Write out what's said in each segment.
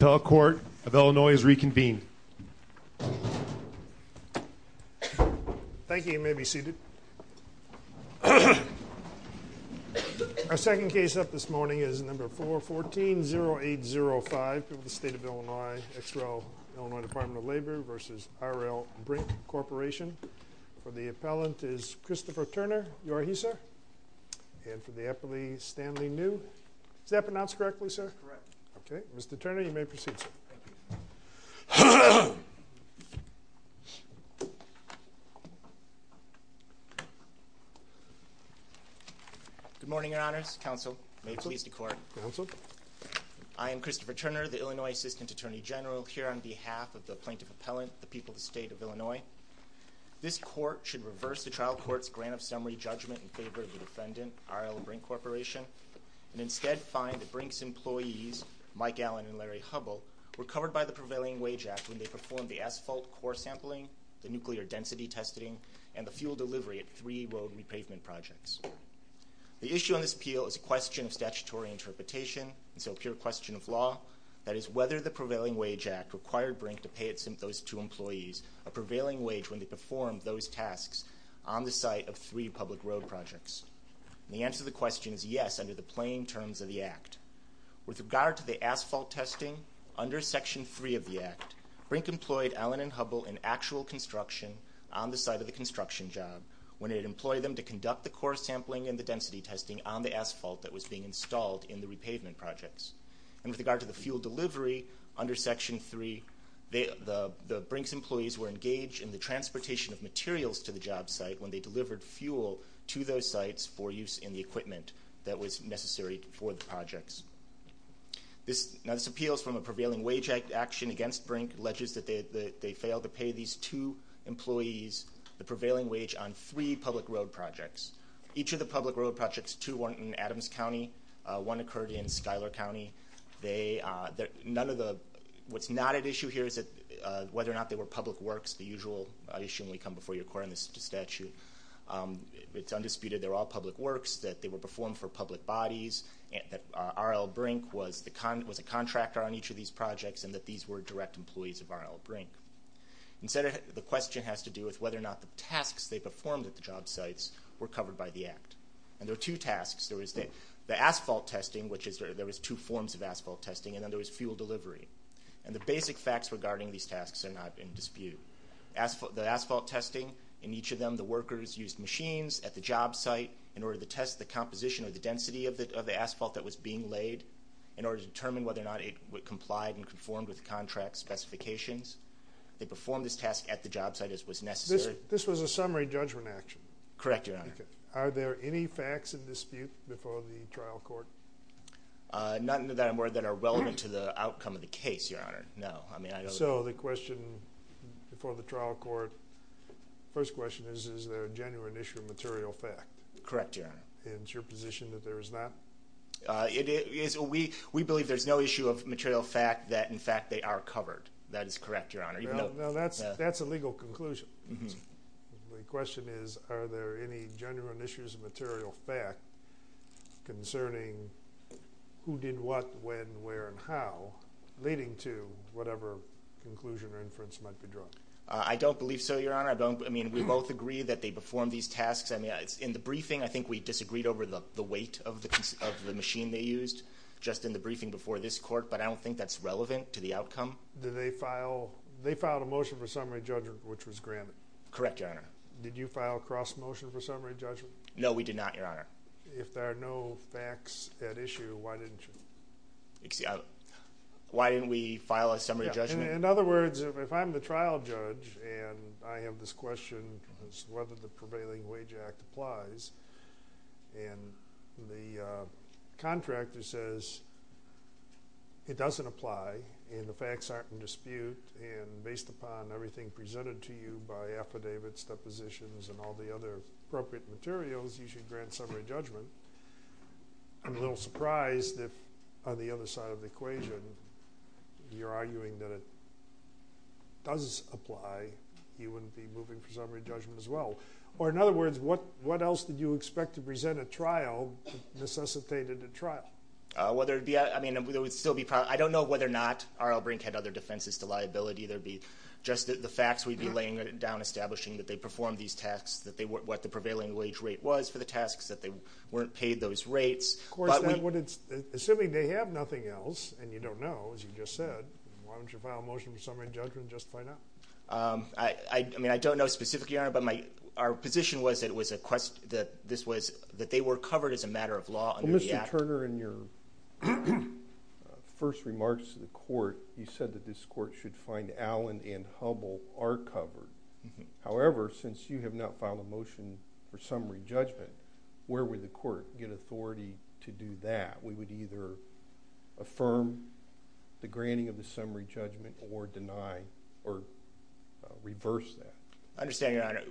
The appellate is Christopher Turner. You are he, sir. And for the appellee, Stanley New. Is that pronounced correctly, sir? Correct. I'm going to call the roll. I'm going to call the roll. You may proceed, sir. Good morning, your honors, counsel. May it please the court. I am Christopher Turner, the Illinois Assistant Attorney General, here on behalf of the plaintiff appellant, the people of the state of Illinois. This court should reverse the trial court's grant of summary judgment in favor of the defendant, R.L. Brink Corporation, and instead find that Brink's employees, Mike Allen and Larry Hubbell, were covered by the Prevailing Wage Act when they performed the asphalt core sampling, the nuclear density testing, and the fuel delivery at three road repavement projects. The issue on this appeal is a question of statutory interpretation, and so a pure question of law. That is, whether the Prevailing Wage Act required Brink to pay those two employees a prevailing wage when they performed those tasks on the site of three public road projects. The answer to the question is yes, under the plain terms of the Act. With regard to the asphalt testing, under Section 3 of the Act, Brink employed Allen and Hubbell in actual construction on the site of the construction job when it employed them to conduct the core sampling and the density testing on the asphalt that was being installed in the repavement projects. And with regard to the fuel delivery, under Section 3, the Brink's employees were engaged in the transportation of materials to the job site when they delivered fuel to those sites for use in the equipment that was necessary for the projects. Now this appeal is from a Prevailing Wage Act action against Brink alleges that they failed to pay these two employees the prevailing wage on three public road projects. Each of the public road projects, two were in Adams County, one occurred in Schuyler County. What's not at issue here is whether or not they were public works, the usual issue when we come before your court on this statute. It's undisputed they're all public works, that they were performed for public bodies, that R.L. Brink was a contractor on each of these projects and that these were direct employees of R.L. Brink. The question has to do with whether or not the tasks they performed at the job sites were covered by the Act. And there were two tasks. There was the asphalt testing, which there was two forms of asphalt testing, and then there was fuel delivery. And the basic facts regarding these tasks are not in dispute. The asphalt testing, in each of them the workers used machines at the job site in order to test the composition or the density of the asphalt that was being laid, in order to determine whether or not it complied and conformed with contract specifications. They performed this task at the job site as was necessary. This was a summary judgment action? Correct, Your Honor. Are there any facts in dispute before the trial court? None that are relevant to the outcome of the case, Your Honor. So the question before the trial court, first question is, is there a genuine issue of material fact? Correct, Your Honor. And is your position that there is not? We believe there's no issue of material fact that in fact they are covered. That is correct, Your Honor. Now that's a legal conclusion. The question is, are there any genuine issues of material fact concerning who did what, when, where, and how, leading to whatever conclusion or inference might be drawn? I don't believe so, Your Honor. I don't, I mean, we both agree that they performed these tasks. In the briefing, I think we disagreed over the weight of the machine they used, just in the briefing before this court, but I don't think that's relevant to the outcome. Did they file, they filed a motion for summary judgment, which was granted? Correct, Your Honor. Did you file a cross motion for summary judgment? No, we did not, Your Honor. If there are no facts at issue, why didn't you? Why didn't we file a summary judgment? In other words, if I'm the trial judge and I have this question as to whether the prevailing wage act applies, and the contractor says it doesn't apply, and the facts aren't in dispute, and based upon everything presented to you by affidavits, depositions, and all the other appropriate materials, you should grant summary judgment. I'm a little surprised that on the other side of the equation, you're arguing that it does apply, you wouldn't be moving for summary judgment as well. Or in other words, what else did you expect to present at trial necessitated at trial? I don't know whether or not R.L. Brink had other defenses to liability. There'd be just the facts we'd be laying down, establishing that they performed these tasks, what the prevailing wage rate was for the tasks, that they weren't paid those rates. Assuming they have nothing else and you don't know, as you just said, why don't you file a motion for summary judgment just to find out? I don't know specifically, Your Honor, but our position was that they were covered as a matter of law under the act. Mr. Turner, in your first remarks to the Court, you said that this Court should find Allen and Hubble are covered. However, since you have not filed a motion for summary judgment, where would the Court get authority to do that? We would either affirm the granting of the summary judgment or reverse that. I understand, Your Honor.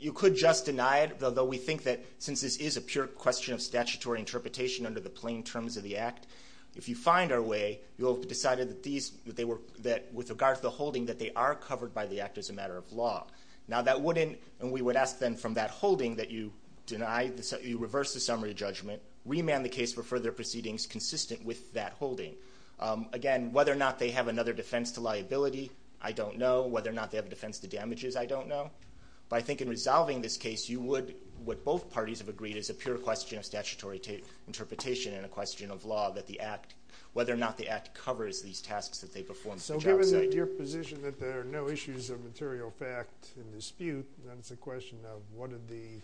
You could just deny it, although we think that since this is a pure question of statutory interpretation under the plain terms of the act, if you find our way, you'll have decided that with regard to the holding, that they are covered by the act as a matter of law. We would ask then from that holding that you reverse the summary judgment, remand the case for further proceedings consistent with that holding. Again, whether or not they have another defense to liability, I don't know. Whether or not they have a defense to damages, I don't know. But I think in resolving this case, you would, what both parties have agreed is a pure question of statutory interpretation and a question of law that the act, whether or not the act covers these tasks that they perform. So given your position that there are no issues of material fact in dispute, then it's a question of what do the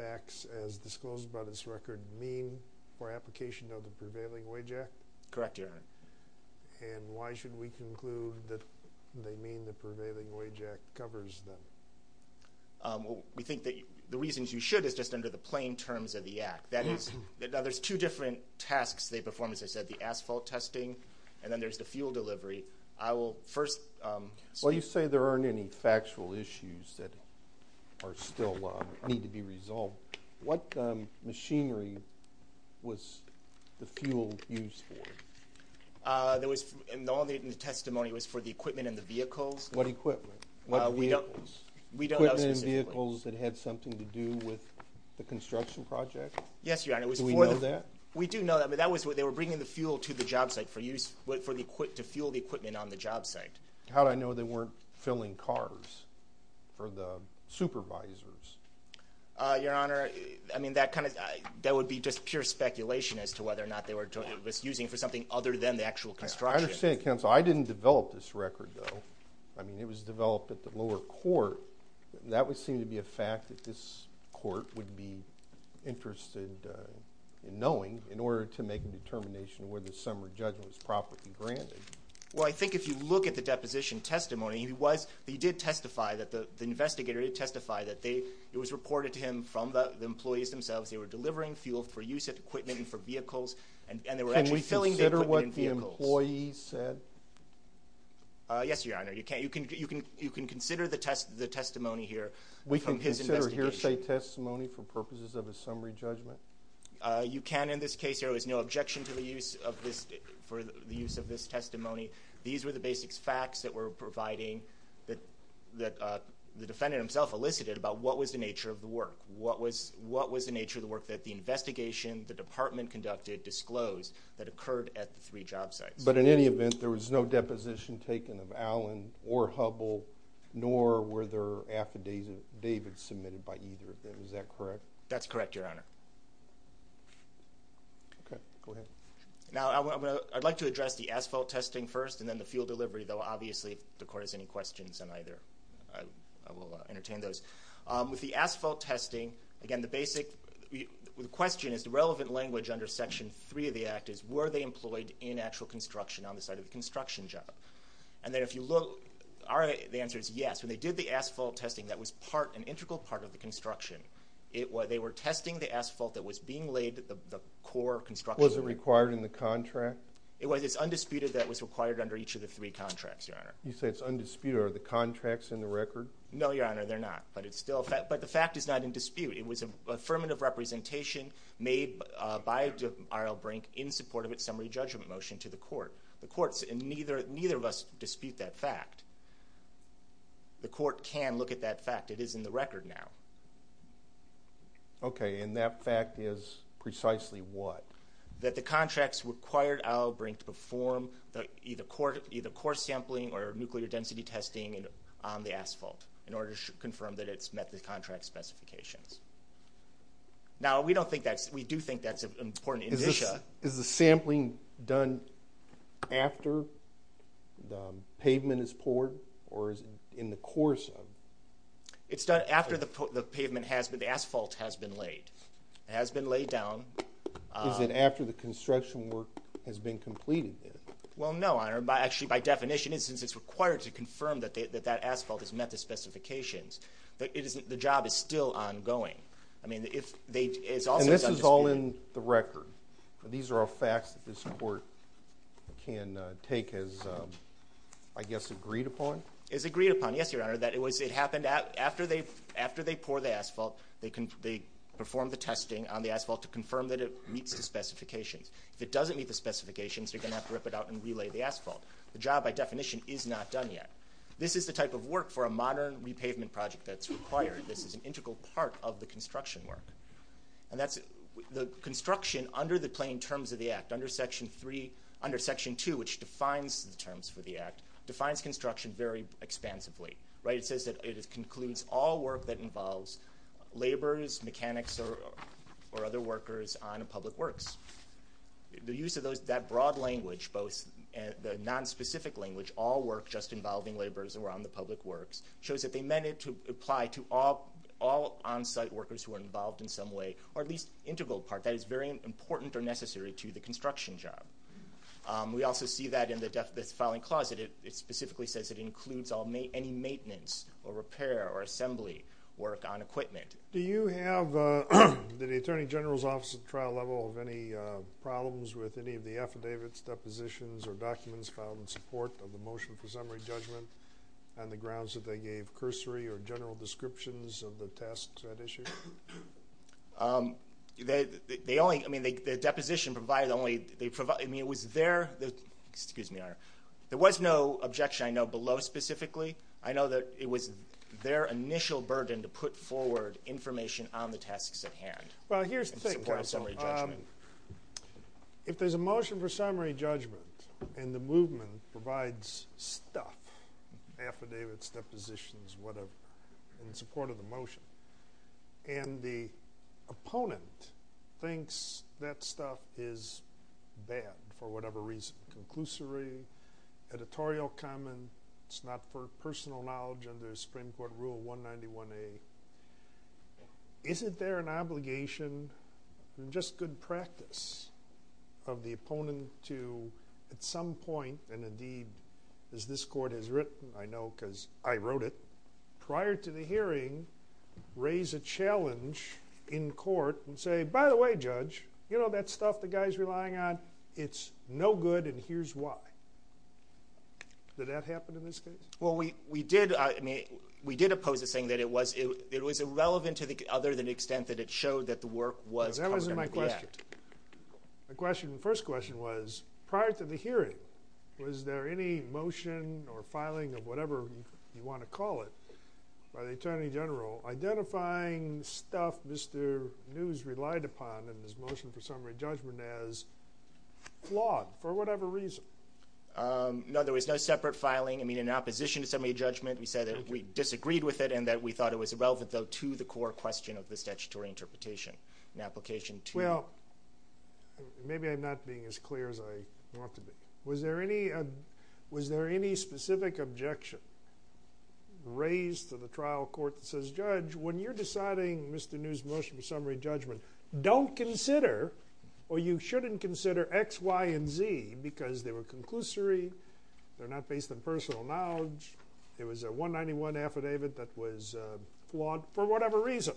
facts as disclosed by this record mean for application of the Prevailing Wage Act? Correct, Your Honor. And why should we conclude that they mean the Prevailing Wage Act covers them? We think that the reasons you should is just under the plain terms of the act. That is, now there's two different tasks they perform, as I said, the asphalt testing and then there's the fuel delivery. I will first... Well, you say there aren't any factual issues that are still need to be resolved. What machinery was the fuel used for? There was in all the testimony was for the equipment and the vehicles. What equipment? What vehicles? We don't know specifically. Equipment and vehicles that had something to do with the construction project? Yes, Your Honor. Do we know that? We do know that, but that was... They were bringing the fuel to the job site to fuel the equipment on the job site. How do I know they weren't filling cars for the supervisors? Your Honor, I mean, that kind of... That would be just pure speculation as to whether or not they were using it for something other than the actual construction. I understand, Counselor. I didn't develop this record, though. I mean, it was developed at the lower court. That would seem to be a fact that this court would be interested in knowing in order to make a determination whether summary judgment was properly granted. Well, I think if you look at the deposition testimony, he did testify that the investigator did testify that it was reported to him from the employees themselves. They were delivering fuel for use of equipment and for vehicles and they were actually filling the equipment and vehicles. Can we consider what the employee said? Yes, Your Honor. You can. You can consider the testimony here from his investigation. We can consider the hearsay testimony for purposes of a summary judgment? You can in this case. There is no objection to the use of this testimony. These were the basic facts that were providing that the defendant himself elicited about what was the nature of the work. What was the nature of the work that the investigation, the department conducted disclosed that occurred at the three job sites? But in any event, there was no deposition taken of Allen or Hubbell, nor were there affidavits submitted by either of them. Is that correct? That's correct, Your Honor. Okay. Go ahead. I'd like to address the asphalt testing first and then the fuel delivery, though obviously if the Court has any questions on either I will entertain those. With the asphalt testing, again the basic question is the relevant language under Section 3 of the Act is were they employed in actual construction on the site of the construction job? And then if you look, the answer is yes. When they did the asphalt testing, that was part, an integral part of the construction. They were testing the asphalt that was being laid the core construction. Was it required in the contract? It was. It's undisputed that it was required under each of the three contracts, Your Honor. You say it's undisputed. Are the contracts in the record? No, Your Honor, they're not. But the fact is not in dispute. It was an affirmative representation made by R.L. Brink in support of its summary judgment motion to the Court. The Court, and neither of us dispute that fact. The Court can look at that fact. It is in the record now. Okay, and that fact is precisely what? That the contracts required R.L. Brink to perform either core sampling or nuclear density testing on the asphalt in order to confirm that it's met the contract specifications. Now, we do think that's an important indicia. Is the sampling done after the pavement is poured, or is it in the course of it? The asphalt has been laid. Is it after the construction work has been completed? Well, no, Your Honor. By definition, it's required to confirm that that asphalt has met the specifications. The job is still ongoing. This is all in the record. These are all facts that this Court can take as, I guess, agreed upon? As agreed upon, yes, Your Honor. It happened after they poured the asphalt. They performed the testing on the asphalt to confirm that it meets the specifications. If it doesn't meet the specifications, they're going to have to rip it out and relay the asphalt. The job, by definition, is not done yet. This is the type of work for a modern repavement project that's required. This is an integral part of the construction work. The construction under the plain terms of the Act, under Section 2, which defines the terms for the Act, defines construction very expansively. It says that it concludes all work that involves laborers, mechanics, or other workers on public works. The use of that broad language, both the non-specific language, all work just involving laborers or on the public works, shows that they meant it to apply to all on-site workers who are involved in some way, or at least integral part. That is very important or necessary to the construction job. We also see that in the filing closet. It specifically says it includes any maintenance or repair or assembly work on equipment. Do you have, did the Attorney General's Office at trial level have any problems with any of the affidavits, depositions, or documents filed in support of the motion for summary judgment on the grounds that they gave cursory or general descriptions of the tasks at issue? They only, I mean, the deposition provided only, I mean, it was their, excuse me, there was no objection I know below specifically. I know that it was their initial burden to put forward information on the tasks at hand. Well, here's the thing, Counsel. If there's a motion for summary judgment and the movement provides stuff, affidavits, depositions, whatever, in support of the motion and the opponent thinks that stuff is bad for whatever reason, conclusory, editorial comment, it's not for personal knowledge under Supreme Court Rule 191A, isn't there an obligation, just good practice, of the opponent to at some point, and indeed as this Court has written, I know because I wrote it, prior to the hearing, raise a challenge in court and say, by the way, Judge, you know that stuff the guy's relying on, it's no good and here's why. Did that happen in this case? Well, we did, I mean, we did oppose it saying that it was irrelevant other than the extent that it showed that the work was covered under the Act. That wasn't my question. The first question was, prior to the hearing, was there any motion or filing of whatever you want to call it by the Attorney General identifying stuff Mr. News relied upon in his motion for summary judgment as flawed for whatever reason? No, there was no separate filing. I mean, in opposition to summary judgment, we said that we disagreed with it and that we thought it was irrelevant, though, to the core question of the statutory interpretation. Well, maybe I'm not being as clear as I want to be. Was there any specific objection raised to the trial court that says, Judge, when you're deciding Mr. News' motion for summary judgment, don't consider, or you shouldn't consider, X, Y, and Z because they were conclusory, they're not based on personal knowledge, it was a 191 affidavit that was flawed for whatever reason.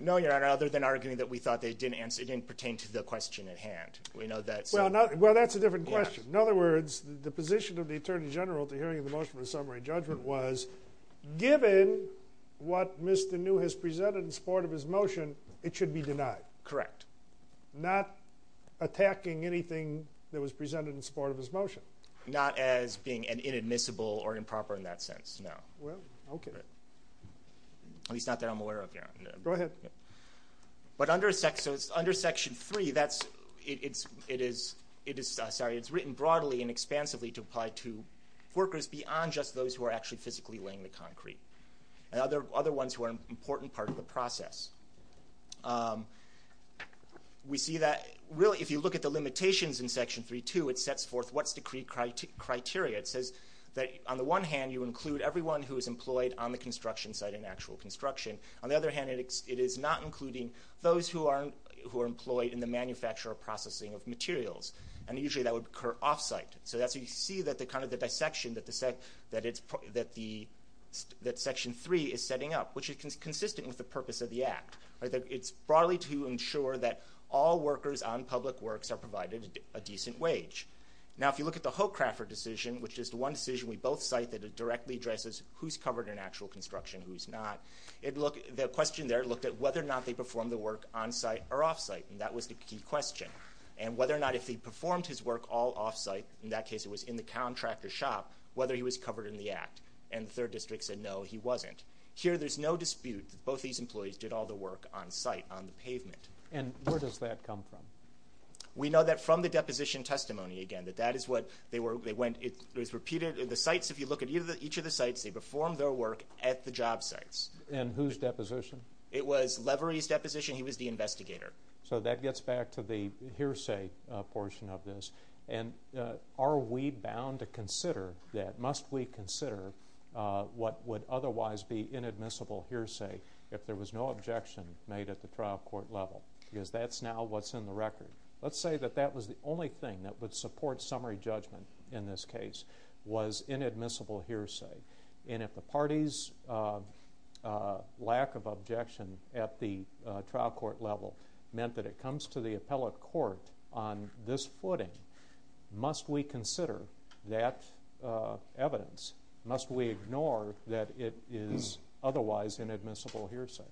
No, Your Honor, other than arguing that we thought it didn't pertain to the question at hand. Well, that's a different question. In other words, the position of the Attorney General to hearing the motion for summary judgment was given what Mr. New has presented in support of his motion, it should be denied. Correct. Not attacking anything that was presented in support of his motion. Not as being inadmissible or improper in that sense, no. At least not that I'm aware of, Your Honor. Go ahead. Under Section 3, it is written broadly and expansively to apply to workers beyond just those who are actually physically laying the concrete and other ones who are an important part of the process. We see that, really, if you look at the limitations in Section 3.2, it sets forth what's the criteria. It says that, on the one hand, you include everyone who is employed on the construction site in actual construction. On the other hand, it is not including those who are employed in the manufacture or processing of materials. Usually, that would occur off-site. You see the dissection that Section 3 is setting up, which is consistent with the purpose of the Act. It's broadly to ensure that all workers on public works are provided a decent wage. If you look at the Hochraffer decision, which is the one decision we both cite that directly addresses who's covered in actual construction, who's not. The question there looked at whether or not they performed the work on-site or off-site, and that was the key question. And whether or not if they performed his work all off-site, in that case it was in the contractor's shop, whether he was covered in the Act. And the Third District said, no, he wasn't. Here, there's no dispute that both these employees did all the work on-site, on the pavement. And where does that come from? We know that from the deposition testimony, again, that that is what they went... It was repeated. The sites, if you look at each of the sites, they performed their work at the job sites. And whose deposition? It was Levery's deposition. He was the investigator. So that gets back to the hearsay portion of this. And are we bound to consider that? Must we consider what would otherwise be inadmissible hearsay if there was no objection made at the trial court level? Because that's now what's in the record. Let's say that that was the only thing that would was inadmissible hearsay. And if the party's lack of objection at the trial court level meant that it comes to the appellate court on this footing, must we consider that evidence? Must we ignore that it is otherwise inadmissible hearsay?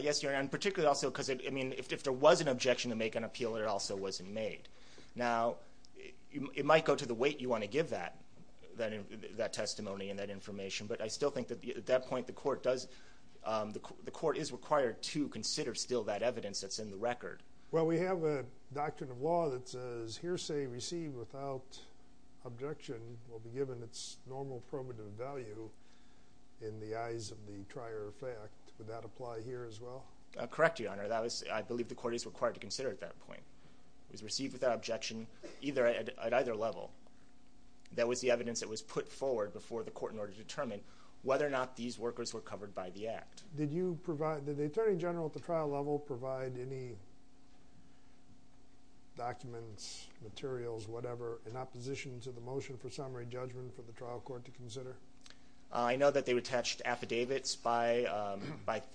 Yes, Your Honor. And particularly also because, I mean, if there was an objection to make an appeal, it also wasn't made. Now, it might go to the weight you want to give that testimony and that information, but I still think that at that point the court does the court is required to consider still that evidence that's in the record. Well, we have a doctrine of law that says hearsay received without objection will be given its normal primitive value in the eyes of the trier of fact. Would that apply here as well? Correct, Your Honor. I believe the court is required to consider at that point. It was received without objection at either level. That was the evidence that was put forward before the court in order to determine whether or not these workers were covered by the act. Did the Attorney General at the trial level provide any documents, materials, whatever, in opposition to the motion for summary judgment for the trial court to consider? I know that they attached affidavits by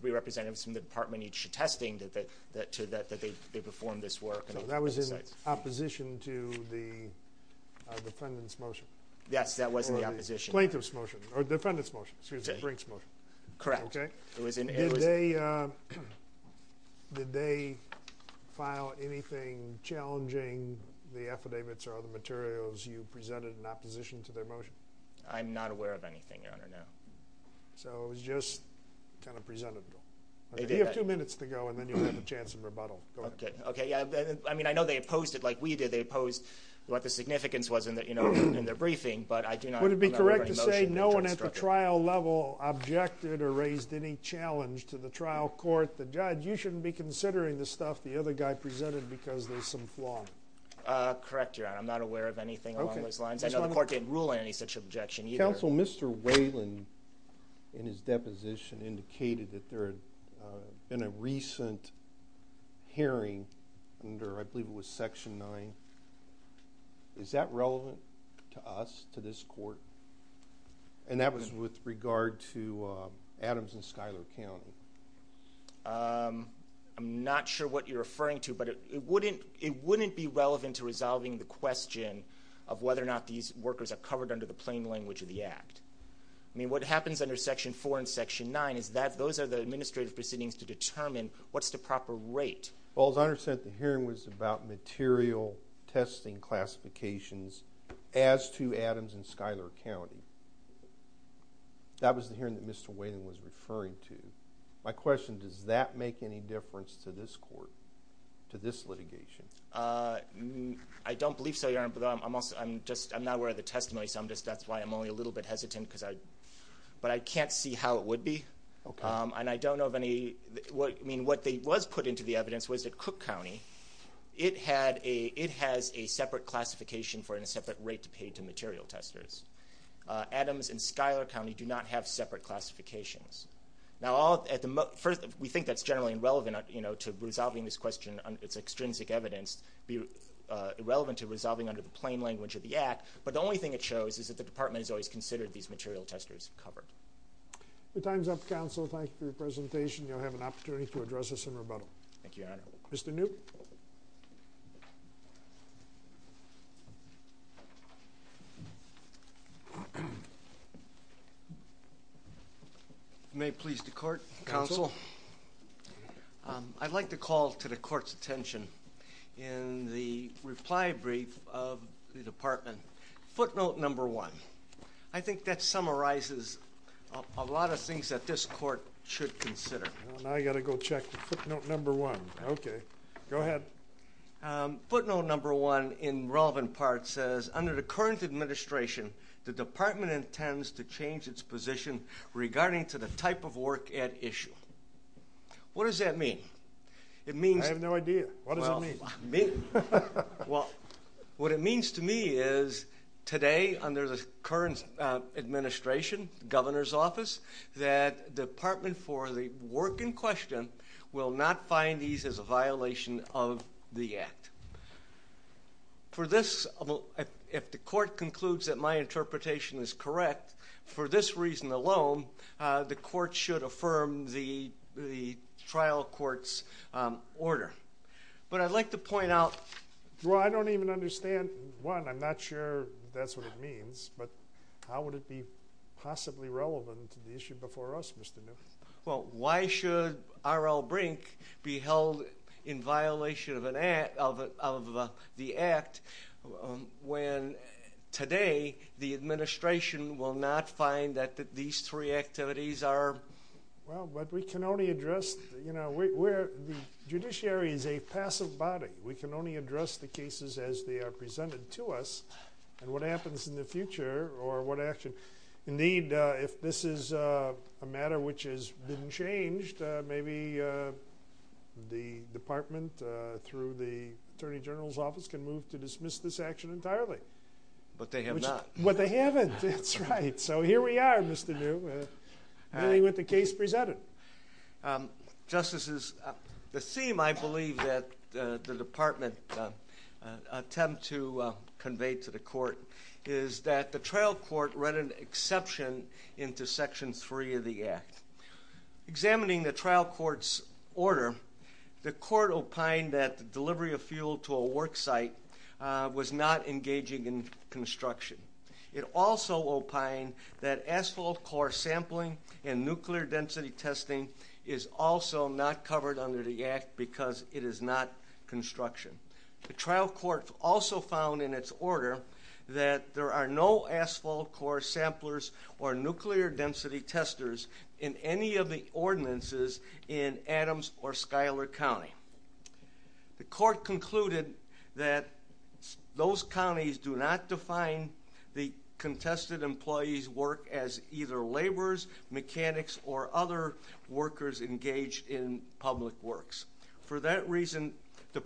three representatives from the department each attesting that they performed this work. So that was in opposition to the defendant's motion? Yes, that was in opposition. Plaintiff's motion, or defendant's motion. Correct. Did they file anything challenging the affidavits or other materials you presented in opposition to their motion? I'm not aware of anything, Your Honor. So it was just kind of presentable. You have two minutes to go, and then you'll have a chance in rebuttal. I know they opposed it like we did. They opposed what the significance was in their briefing, but I do not remember any motion. Would it be correct to say no one at the trial level objected or raised any challenge to the trial court? The judge? You shouldn't be considering the stuff the other guy presented because there's some flaw. Correct, Your Honor. I'm not aware of anything along those lines. I know the court didn't rule on any such objection either. Counsel, Mr. Whalen, in his deposition, indicated that there had been a recent hearing under, I believe it was Section 9. Is that relevant to us, to this court? And that was with regard to Adams and Schuyler County. I'm not sure what you're referring to, but it wouldn't be relevant to resolving the question of whether or not these workers are covered under the plain language of the Act. I mean, what happens under Section 4 and Section 9 is that those are the administrative proceedings to determine what's the proper rate. Well, as I understand it, the hearing was about material testing classifications as to Adams and Schuyler County. That was the hearing that Mr. Whalen was referring to. My question, does that make any difference to this court, to this litigation? I don't believe so, Your Honor, but I'm not aware of the precedent, but I can't see how it would be. And I don't know of any... What was put into the evidence was that Cook County, it has a separate classification for a separate rate to pay to material testers. Adams and Schuyler County do not have separate classifications. Now, we think that's generally irrelevant to resolving this question, its extrinsic evidence, be relevant to resolving under the plain language of the Act, but the only thing it shows is that the Department has always considered these material testers covered. The time's up, Counsel. Thank you for your presentation. You'll have an opportunity to address us in rebuttal. Thank you, Your Honor. Mr. Newt. If you may please the Court, Counsel. I'd like to call to the Court's attention in the reply brief of the Department footnote number one. I think that summarizes a lot of things that this Court should consider. Now you've got to go check the footnote number one. Okay. Go ahead. Footnote number one in relevant parts says, under the current administration the Department intends to change its position regarding to the type of work at issue. What does that mean? It means... I have no idea. What does it mean? Well, what it means to me is today, under the current administration, the Governor's Office, that the Department for the work in question will not find these as a violation of the Act. For this, if the Court concludes that my interpretation is correct, for this reason alone, the Court should affirm the trial court's order. But I'd like to point out... Well, I don't even understand, one, I'm not sure that's what it means, but how would it be possibly relevant to the issue before us, Mr. New? Well, why should R.L. Brink be held in violation of the Act when today the administration will not find that these three activities are... Well, but we can only address... The judiciary is a passive body. We can only address the cases as they are presented to us, and what happens in the future, or what action... Indeed, if this is a matter which has been changed, maybe the Department through the Attorney General's Office can move to dismiss this action entirely. But they have not. But they haven't, that's right. So here we are, Mr. New, dealing with the case presented. Justices, the theme, I believe, that the Department attempt to convey to the Court is that the trial court read an exception into Section 3 of the Act. Examining the trial court's order, the court opined that the delivery of fuel to a worksite was not engaging in construction. It also opined that asphalt core sampling and nuclear density testing is also not covered under the Act because it is not construction. The trial court also found in its order that there are no asphalt core samplers or nuclear density testers in any of the ordinances in Adams or Schuyler County. The court concluded that those counties do not define the contested employee's work as either laborers, mechanics, or other workers engaged in public works. For that reason, the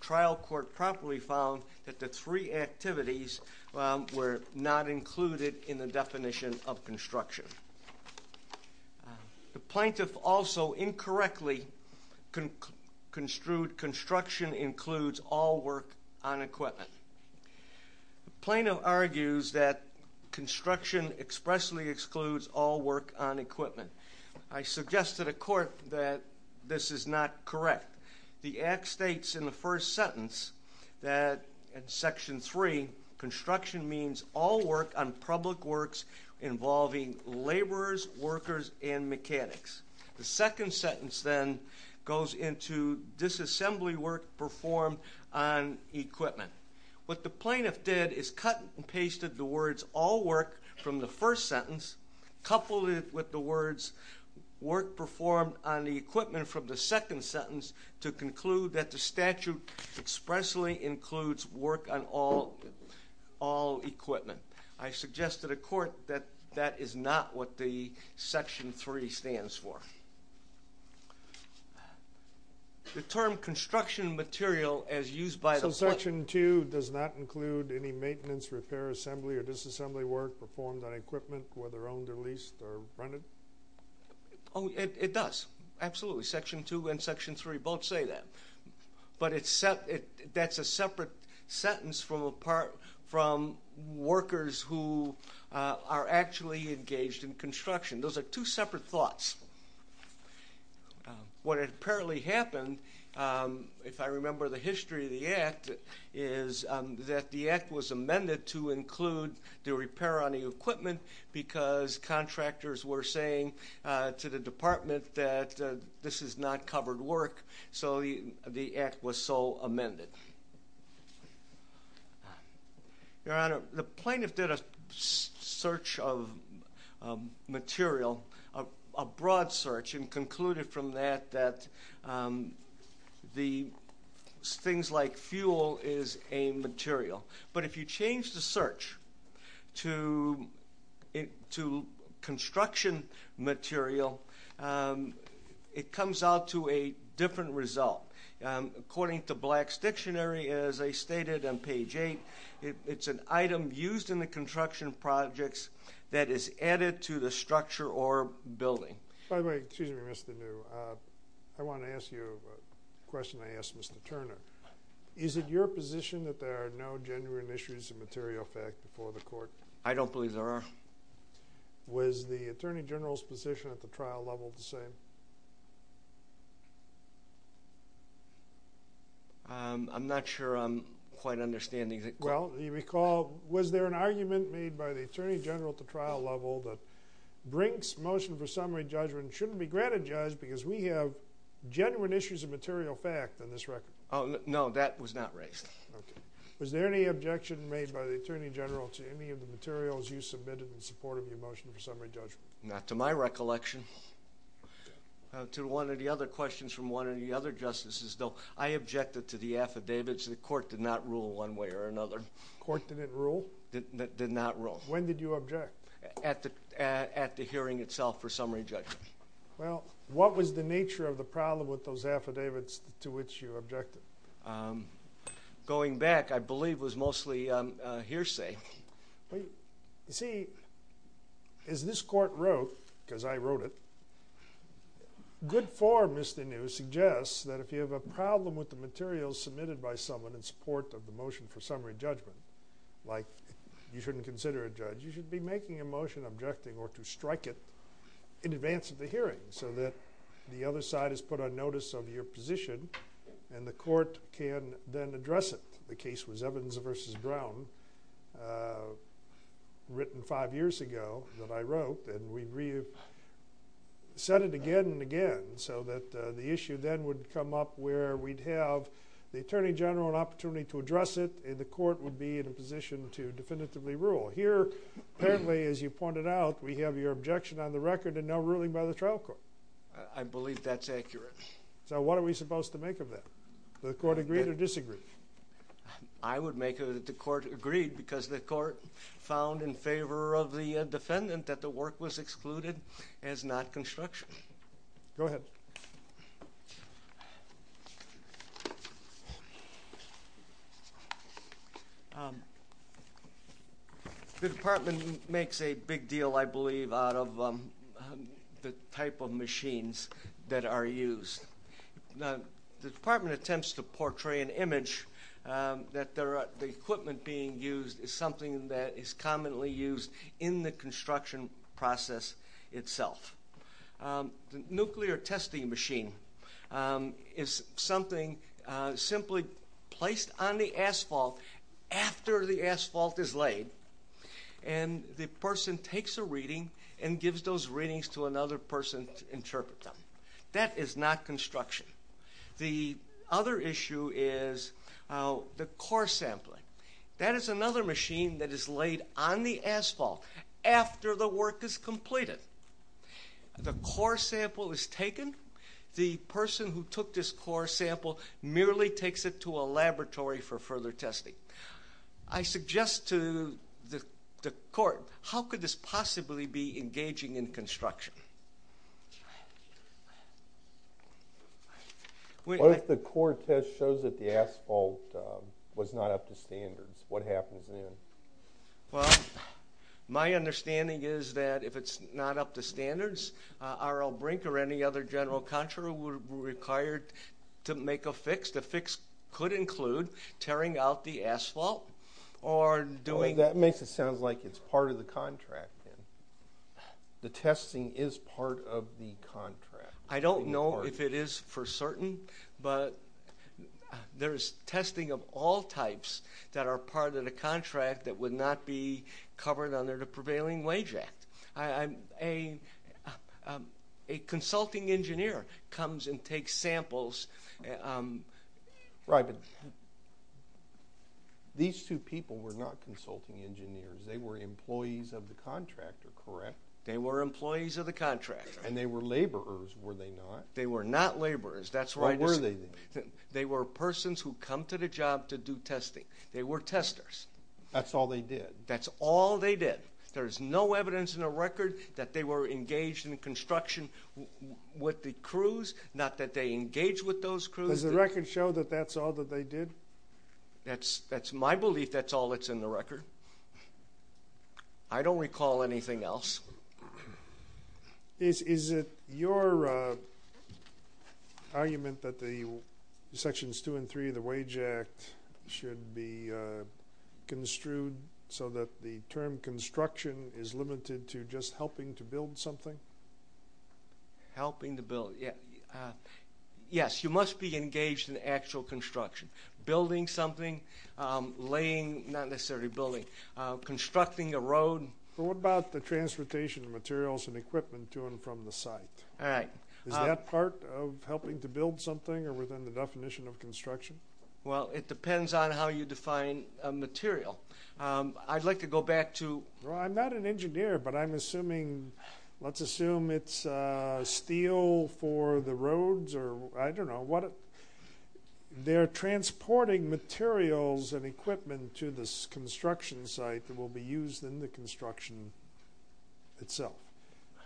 trial court properly found that the three activities were not included in the definition of construction. The plaintiff also incorrectly construed construction includes all work on equipment. The plaintiff argues that construction expressly excludes all work on equipment. I suggest to the court that this is not correct. The Act states in the first sentence that in Section 3, construction means all work on public works involving laborers, workers, and mechanics. The second sentence then goes into disassembly work performed on equipment. What the plaintiff did is cut and pasted the words all work from the first sentence, coupled with the words work performed on the equipment from the second sentence to conclude that the statute expressly includes work on all equipment. I suggest to the court that that is not what the Section 3 stands for. The term construction material as used by the court... So Section 2 does not include any maintenance, repair, assembly, or disassembly work performed on equipment whether owned or leased or rented? Oh, it does. Absolutely. Section 2 and Section 3 both say that. But that's a separate sentence from workers who are actually engaged in construction. Those are two separate sentences. What apparently happened if I remember the history of the Act is that the Act was amended to include the repair on the equipment because contractors were saying to the Department that this is not covered work so the Act was so amended. Your Honor, the plaintiff did a search of material, a broad search, and concluded from that that the things like fuel is a material. But if you change the search to construction material, it comes out to a different result. According to Black's Dictionary, as I stated on page 8, it's an item used in the construction projects that is added to the structure or building. By the way, excuse me, Mr. New. I want to ask you a question I asked Mr. Turner. Is it your position that there are no genuine issues of material fact before the Court? I don't believe there are. Was the Attorney General's position at the trial level the same? I'm not sure I'm quite understanding. Well, you recall was there an argument made by the Attorney General at the trial level that Brink's motion for summary judgment shouldn't be granted, Judge, because we have genuine issues of material fact on this record? No, that was not raised. Was there any objection made by the Attorney General to any of the materials you submitted in support of your motion for summary judgment? Not to my recollection. To one of the other questions from one of the other Justices, though, I objected to the affidavits. The Court did not rule one way or another. The Court didn't rule? Did not rule. When did you object? At the hearing itself for summary judgment. Well, what was the nature of the problem with those affidavits to which you objected? Going back, I believe it was mostly hearsay. You see, as this Court wrote, because I wrote it, good form, Mr. New, suggests that if you have a problem with the materials submitted by someone in support of the motion for summary judgment, like you shouldn't consider it, Judge, you should be making a motion objecting or to strike it in advance of the hearing so that the other side is put on notice of your position and the Court can then address it. The case was Evidence vs. Brown written five years ago that I wrote, and we said it again and again so that the issue then would come up where we'd have the Attorney General an opportunity to address it and the Court would be in a position to definitively rule. Here, apparently as you pointed out, we have your objection on the record and no ruling by the trial court. I believe that's accurate. So what are we supposed to make of that? Do the Court agree or disagree? I would make it that the Court agreed because the Court found in favor of the defendant that the work was excluded as not construction. Go ahead. The Department makes a big deal, I believe, out of the type of machines that are used. The Department attempts to portray an image that the equipment being used is something that is commonly used in the construction process itself. The nuclear testing machine is something simply placed on the asphalt after the asphalt is laid and the person takes a reading and gives those readings to another person to interpret them. That is not construction. The other issue is the core sampling. That is another machine that is laid on the asphalt after the work is completed. The core sample is taken. The person who took this core sample merely takes it to a laboratory for further testing. I suggest to the Court, how could this possibly be engaging in construction? What if the core test shows that the asphalt was not up to standards? What happens then? Well, my understanding is that if the asphalt was not up to standards, R.L. Brink or any other general contractor would be required to make a fix. The fix could include tearing out the asphalt or doing... Well, that makes it sound like it's part of the contract. The testing is part of the contract. I don't know if it is for certain, but there is testing of all types that are part of the project. A consulting engineer comes and takes samples. These two people were not consulting engineers. They were employees of the contractor, correct? They were employees of the contractor. And they were laborers, were they not? They were not laborers. They were persons who come to the job to do testing. They were testers. That's all they did. That's all they did. There's no evidence in the record that they were engaged in construction with the crews, not that they engaged with those crews. Does the record show that that's all that they did? That's my belief. That's all that's in the record. I don't recall anything else. Is it your argument that the Sections 2 and 3 of the Wage Act should be construed so that the term construction is limited to just helping to build something? Helping to build. Yes, you must be engaged in actual construction. Building something, laying, not necessarily building, constructing a road. What about the transportation materials and equipment to and from the site? Is that part of helping to build something or within the definition of construction? Well, it depends on how you define material. I'd like to go back to... Well, I'm not an engineer, but I'm assuming, let's assume it's steel for the roads or, I don't know, they're transporting materials and equipment to this construction site that will be used in the construction itself.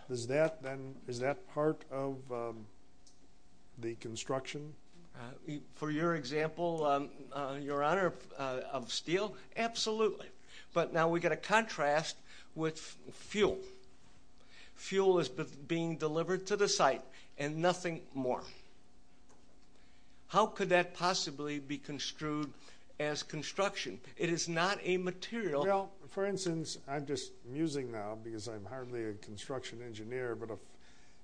Is that then, is that part of the construction? For your example, Your Honor, of steel, absolutely. But now we get a contrast with fuel. Fuel is being delivered to the site and nothing more. How could that possibly be construed as construction? It is not a material. Well, for instance, I'm just musing now because I'm hardly a construction engineer, but if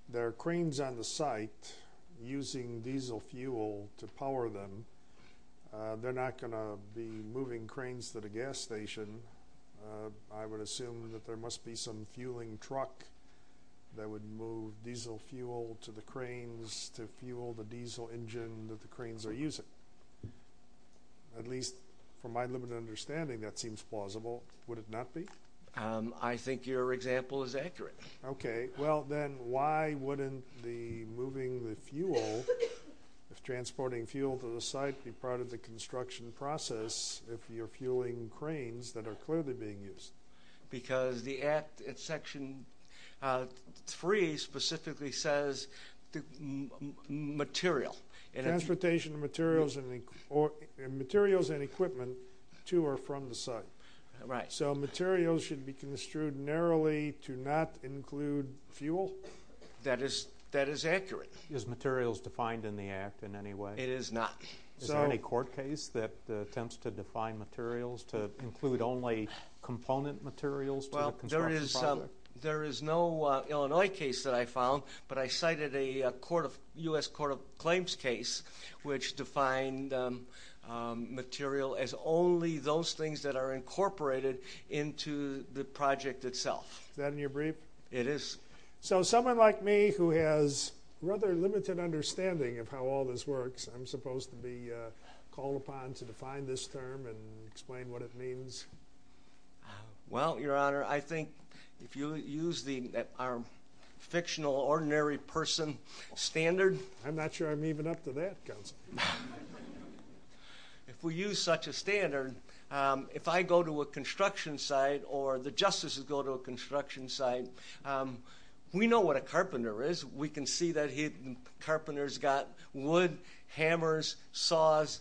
there are cranes on the site using diesel fuel to power them, they're not going to be moving cranes to the gas station. I would assume that there must be some fueling truck that would move diesel fuel to the cranes to fuel the diesel engine that the cranes are using. At least from my limited understanding, that seems plausible. Would it not be? I think your example is accurate. Okay, well then, why wouldn't the moving the fuel, transporting fuel to the site, be part of the construction process if you're fueling cranes that are clearly being used? Because the Act Section 3 specifically says material. Transportation materials and equipment too are from the site. Right. So materials should be construed narrowly to not include fuel? That is accurate. Is materials defined in the Act in any way? It is not. Is there any court case that attempts to define materials to include only component materials? There is no Illinois case that I found, but I cited a U.S. Court of Claims case which defined material as only those things that are incorporated into the project itself. Is that in your brief? It is. So someone like me who has rather limited understanding of how all this works, I'm supposed to be called upon to define this term and explain what it means? Well, Your Honor, I think if you use our fictional ordinary person standard I'm not sure I'm even up to that, Counselor. If we use such a standard, if I go to a construction site or the Justices go to a construction site, we know what a carpenter is. We can see that a carpenter's got wood, hammers, saws.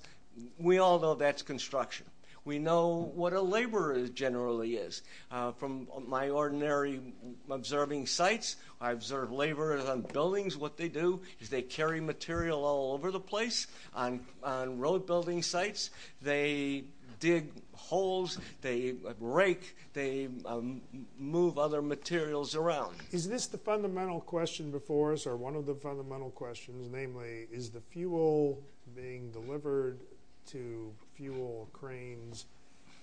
We all know that's construction. We know what a laborer generally is. From my ordinary observing sites, I observe laborers on buildings. What they do is they carry material all over the place. On road building sites, they dig holes, they rake, they move other materials around. Is this the fundamental question before us or one of the fundamental questions, namely, is the fuel being delivered to fuel cranes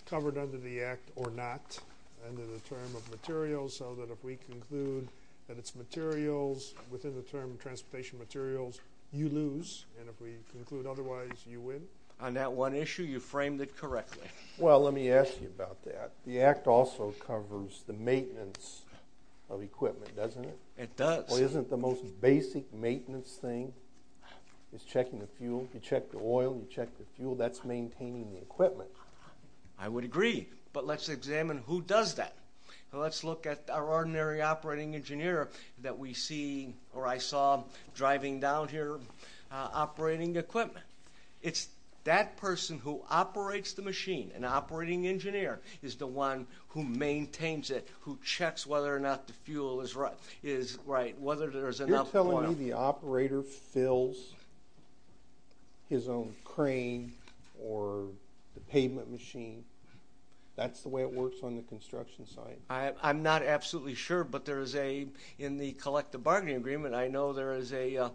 covered under the Act or not under the term of materials so that if we conclude that it's materials within the term of transportation materials, you lose and if we conclude otherwise, you win? On that one issue, you framed it correctly. Well, let me ask you about that. The Act also covers the maintenance of equipment, doesn't it? It does. Isn't the most basic maintenance thing is checking the fuel. You check the oil, you check the fuel. That's maintaining the equipment. I would agree, but let's examine who does that. Let's look at our ordinary operating engineer that we see or I saw driving down here operating equipment. It's that person who operates the machine, an operating engineer is the one who maintains it, who checks whether or not the fuel is right. You're telling me the operator fills his own crane or the pavement machine. That's the way it works on the construction site? I'm not absolutely sure, but there is a in the collective bargaining agreement, I know there is a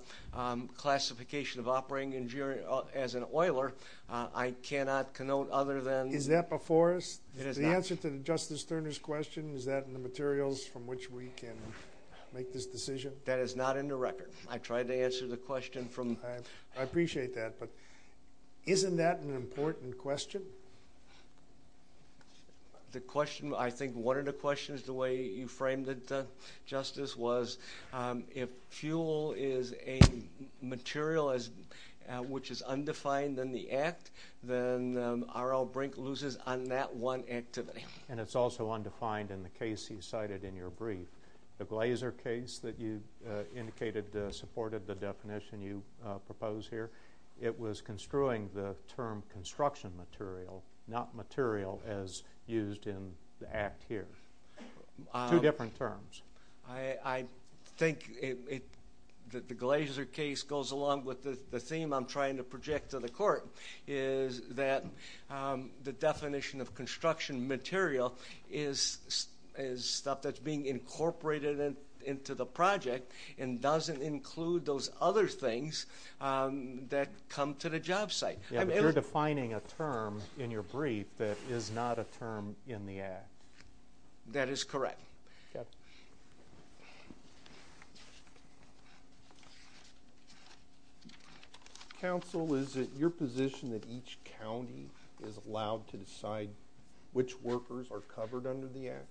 classification of operating engineer as an oiler. I cannot connote other than... Is that before us? It is not. The answer to Justice Turner's question, is that in the materials from which we can make this decision? That is not in the record. I tried to answer the question from... I appreciate that, but isn't that an important question? The question, I think one of the questions the way you framed it, Justice, was if fuel is a material which is undefined in the Act, then R.L. Brink loses on that one activity. And it's also undefined in the case you cited in your brief. The Glaser case that you indicated supported the definition you propose here. It was construing the term construction material, not material as used in the Act here. Two different terms. I think the Glaser case goes along with the theme I'm trying to project to the Court, is that the definition of construction material is stuff that's being incorporated into the project other things that come to the job site. You're defining a term in your definition as not material as used in the Act. That is correct. Counsel, is it your position that each county is allowed to decide which workers are covered under the Act?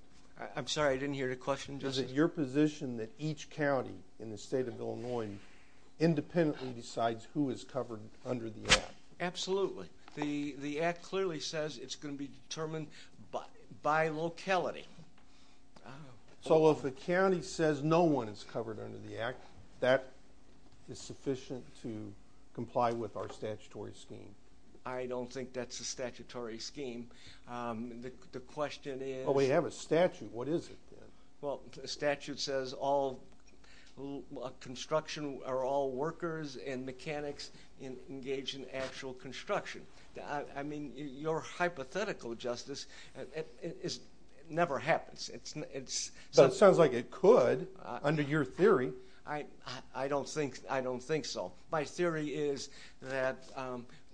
I'm sorry, I didn't hear the question, Justice. Is it your position that each county in the State of Illinois independently decides who is covered under the Act? Absolutely. The Act clearly says it's going to be determined by locality. So if the county says no one is covered under the Act, that is sufficient to comply with our statutory scheme? I don't think that's a statutory scheme. The question is... We have a statute. What is it? The statute says all construction are all workers and mechanics engaged in actual construction. Your hypothetical, Justice, never happens. It sounds like it could under your theory. I don't think so. My theory is that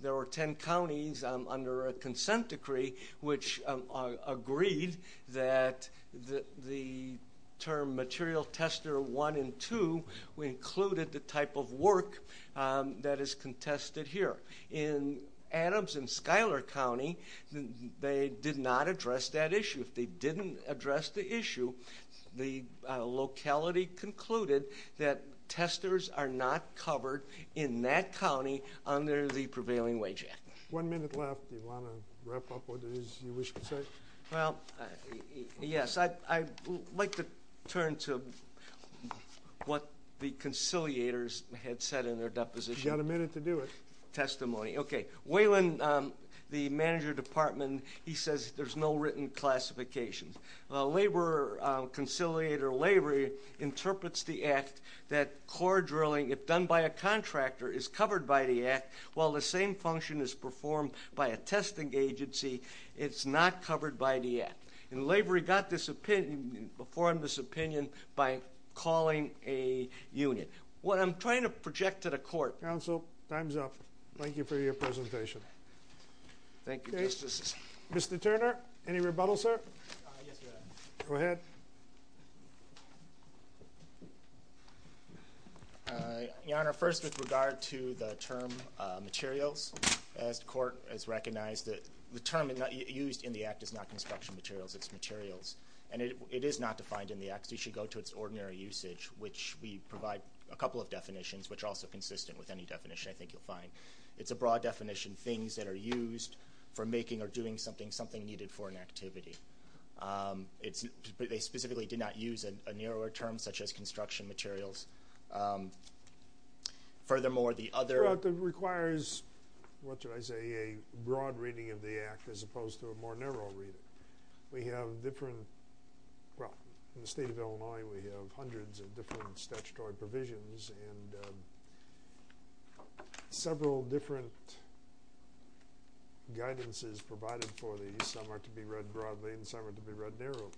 there were 10 counties under a consent decree which agreed that the term material tester 1 and 2 included the type of work that is contested here. In Adams and Schuyler County, they did not address that issue. If they didn't address the issue, the locality concluded that testers are not covered in that county under the Prevailing Wage Act. One minute left. Do you want to wrap up with what you wish to say? Well, yes. I'd like to turn to what the conciliators had said in their deposition. You've got a minute to do it. Testimony. Okay. Wayland, the manager of the department, he says there's no written classification. The laborer, conciliator Lavery, interprets the act that core drilling, if done by a contractor, is covered by the act, while the same function is performed by a testing agency, it's not covered by the act. And Lavery got this opinion, performed this opinion by calling a union. What I'm trying to project to the court... Counsel, time's up. Thank you for your presentation. Thank you, Justice. Mr. Turner, any rebuttal, sir? Yes, Your Honor. Go ahead. Your Honor, first with regard to the term materials, as the court has recognized that the term used in the act is not construction materials, it's materials. And it is not defined in the act, so you should go to its ordinary usage, which we provide a couple of definitions, which are also consistent with any definition I think you'll find. It's a broad definition. Things that are used for making or doing something, something needed for an activity. They specifically did not use a narrower term, such as construction materials. Furthermore, the other... It requires, what should I say, a broad reading of the act as opposed to a more narrow reading. We have different... In the state of Illinois, we have hundreds of different statutory provisions and several different guidances provided for these. Some are to be read broadly and some are to be read narrowly.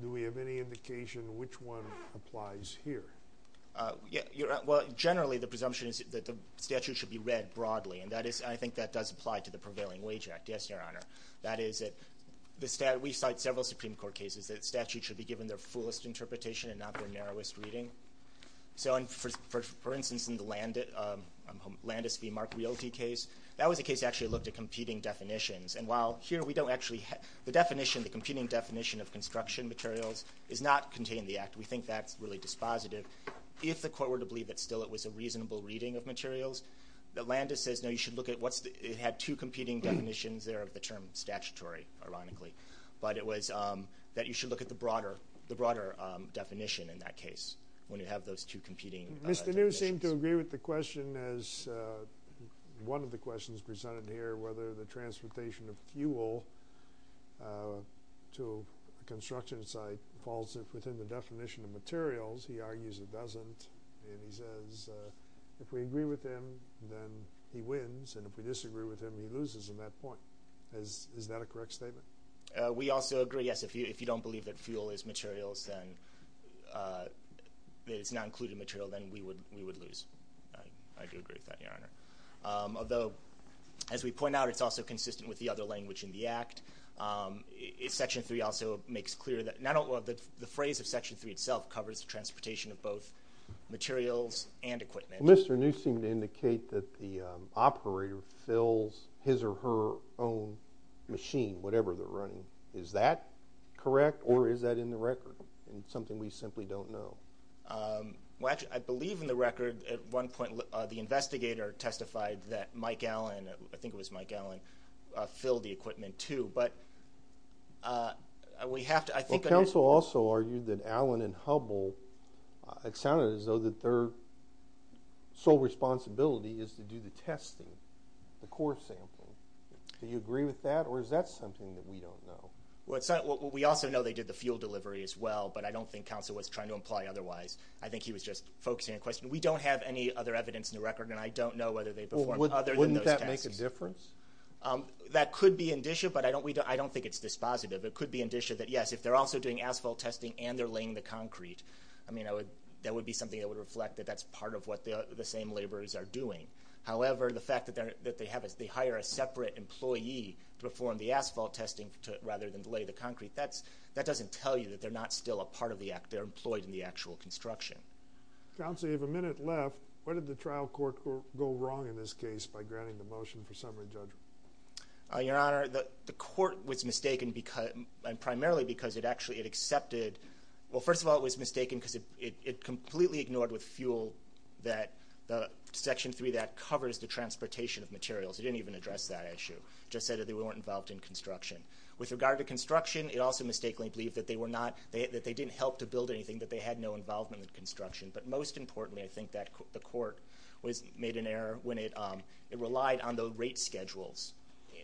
Do we have any indication which one applies here? Well, generally the presumption is that the statute should be read broadly, and I think that does apply to the Prevailing Wage Act, yes, Your Honor. That is, we cite several Supreme Court cases that statute should be given their fullest interpretation and not their narrowest reading. For instance, in the Landis v. Mark Realty case, that was a case that actually looked at competing definitions, and while here we don't actually... The competing definition of construction materials is not contained in the act. We think that's really dispositive. If the Court were to believe that still it was a reasonable reading of materials, Landis says, no, you should look at what's... It had two competing definitions there of the term statutory, ironically, but it was that you should look at the broader definition in that case when you have those two competing definitions. Mr. New seemed to agree with the question as one of the questions presented here, whether the transportation of fuel to a construction site falls within the definition of materials. He argues it doesn't, and he says if we agree with him, then he wins, and if we disagree with him, he loses on that point. Is that a correct statement? We also agree, yes, if you don't believe that fuel is materials and that it's not included material, then we would lose. I do agree with that, Your Honor. Although, as we point out, it's also consistent with the other language in the act. Section 3 also makes clear that... The phrase of Section 3 itself covers transportation of both materials and equipment. Mr. New seemed to indicate that the operator fills his or her own machine, whatever they're running. Is that correct, or is that in the record? It's something we simply don't know. I believe in the record, at one point the investigator testified that Mike Allen, I think it was Mike Allen, filled the equipment too, but we have to... Counsel also argued that Allen and Hubbell, it sounded as though that their sole responsibility is to do the testing, the core sampling. Do you agree with that, or is that something that we don't know? We also know they did the fuel delivery as well, but I don't think Counsel was trying to imply otherwise. I think he was just focusing on the question. We don't have any other evidence in the record, and I don't know whether they performed other than those tests. Wouldn't that make a difference? That could be an issue, but I don't think it's dispositive. It could be an issue that, yes, if they're also doing asphalt testing and they're laying the concrete, that would be something that would reflect that that's part of what the same laborers are doing. However, the fact that they hire a separate employee to perform the asphalt testing rather than to lay the concrete, that doesn't tell you that they're not still a part of the act. They're employed in the actual construction. Counsel, you have a minute left. What did the trial court go wrong in this case by granting the motion for summary judgment? Your Honor, the court was mistaken primarily because it actually accepted... Well, first of all, it was mistaken because it completely ignored with fuel that Section 3 covers the transportation of materials. It didn't even address that issue. It just said that they weren't involved in construction. With regard to construction, it also mistakenly believed that they didn't help to build anything, that they had no involvement in construction. But most importantly, I think that the court made an error when it relied on the rate schedules.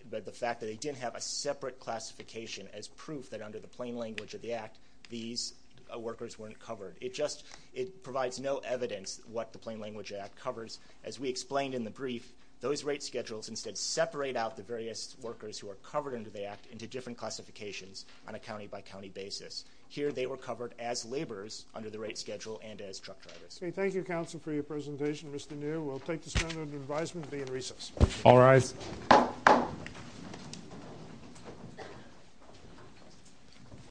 The fact that they didn't have a separate classification as proof that under the plain language of the act these workers weren't covered. It just provides no evidence what the plain language act covers. As we explained in the brief, those rate schedules instead separate out the various workers who are covered under the act into different classifications on a county by county basis. Here, they were covered as laborers under the rate schedule and as truck drivers.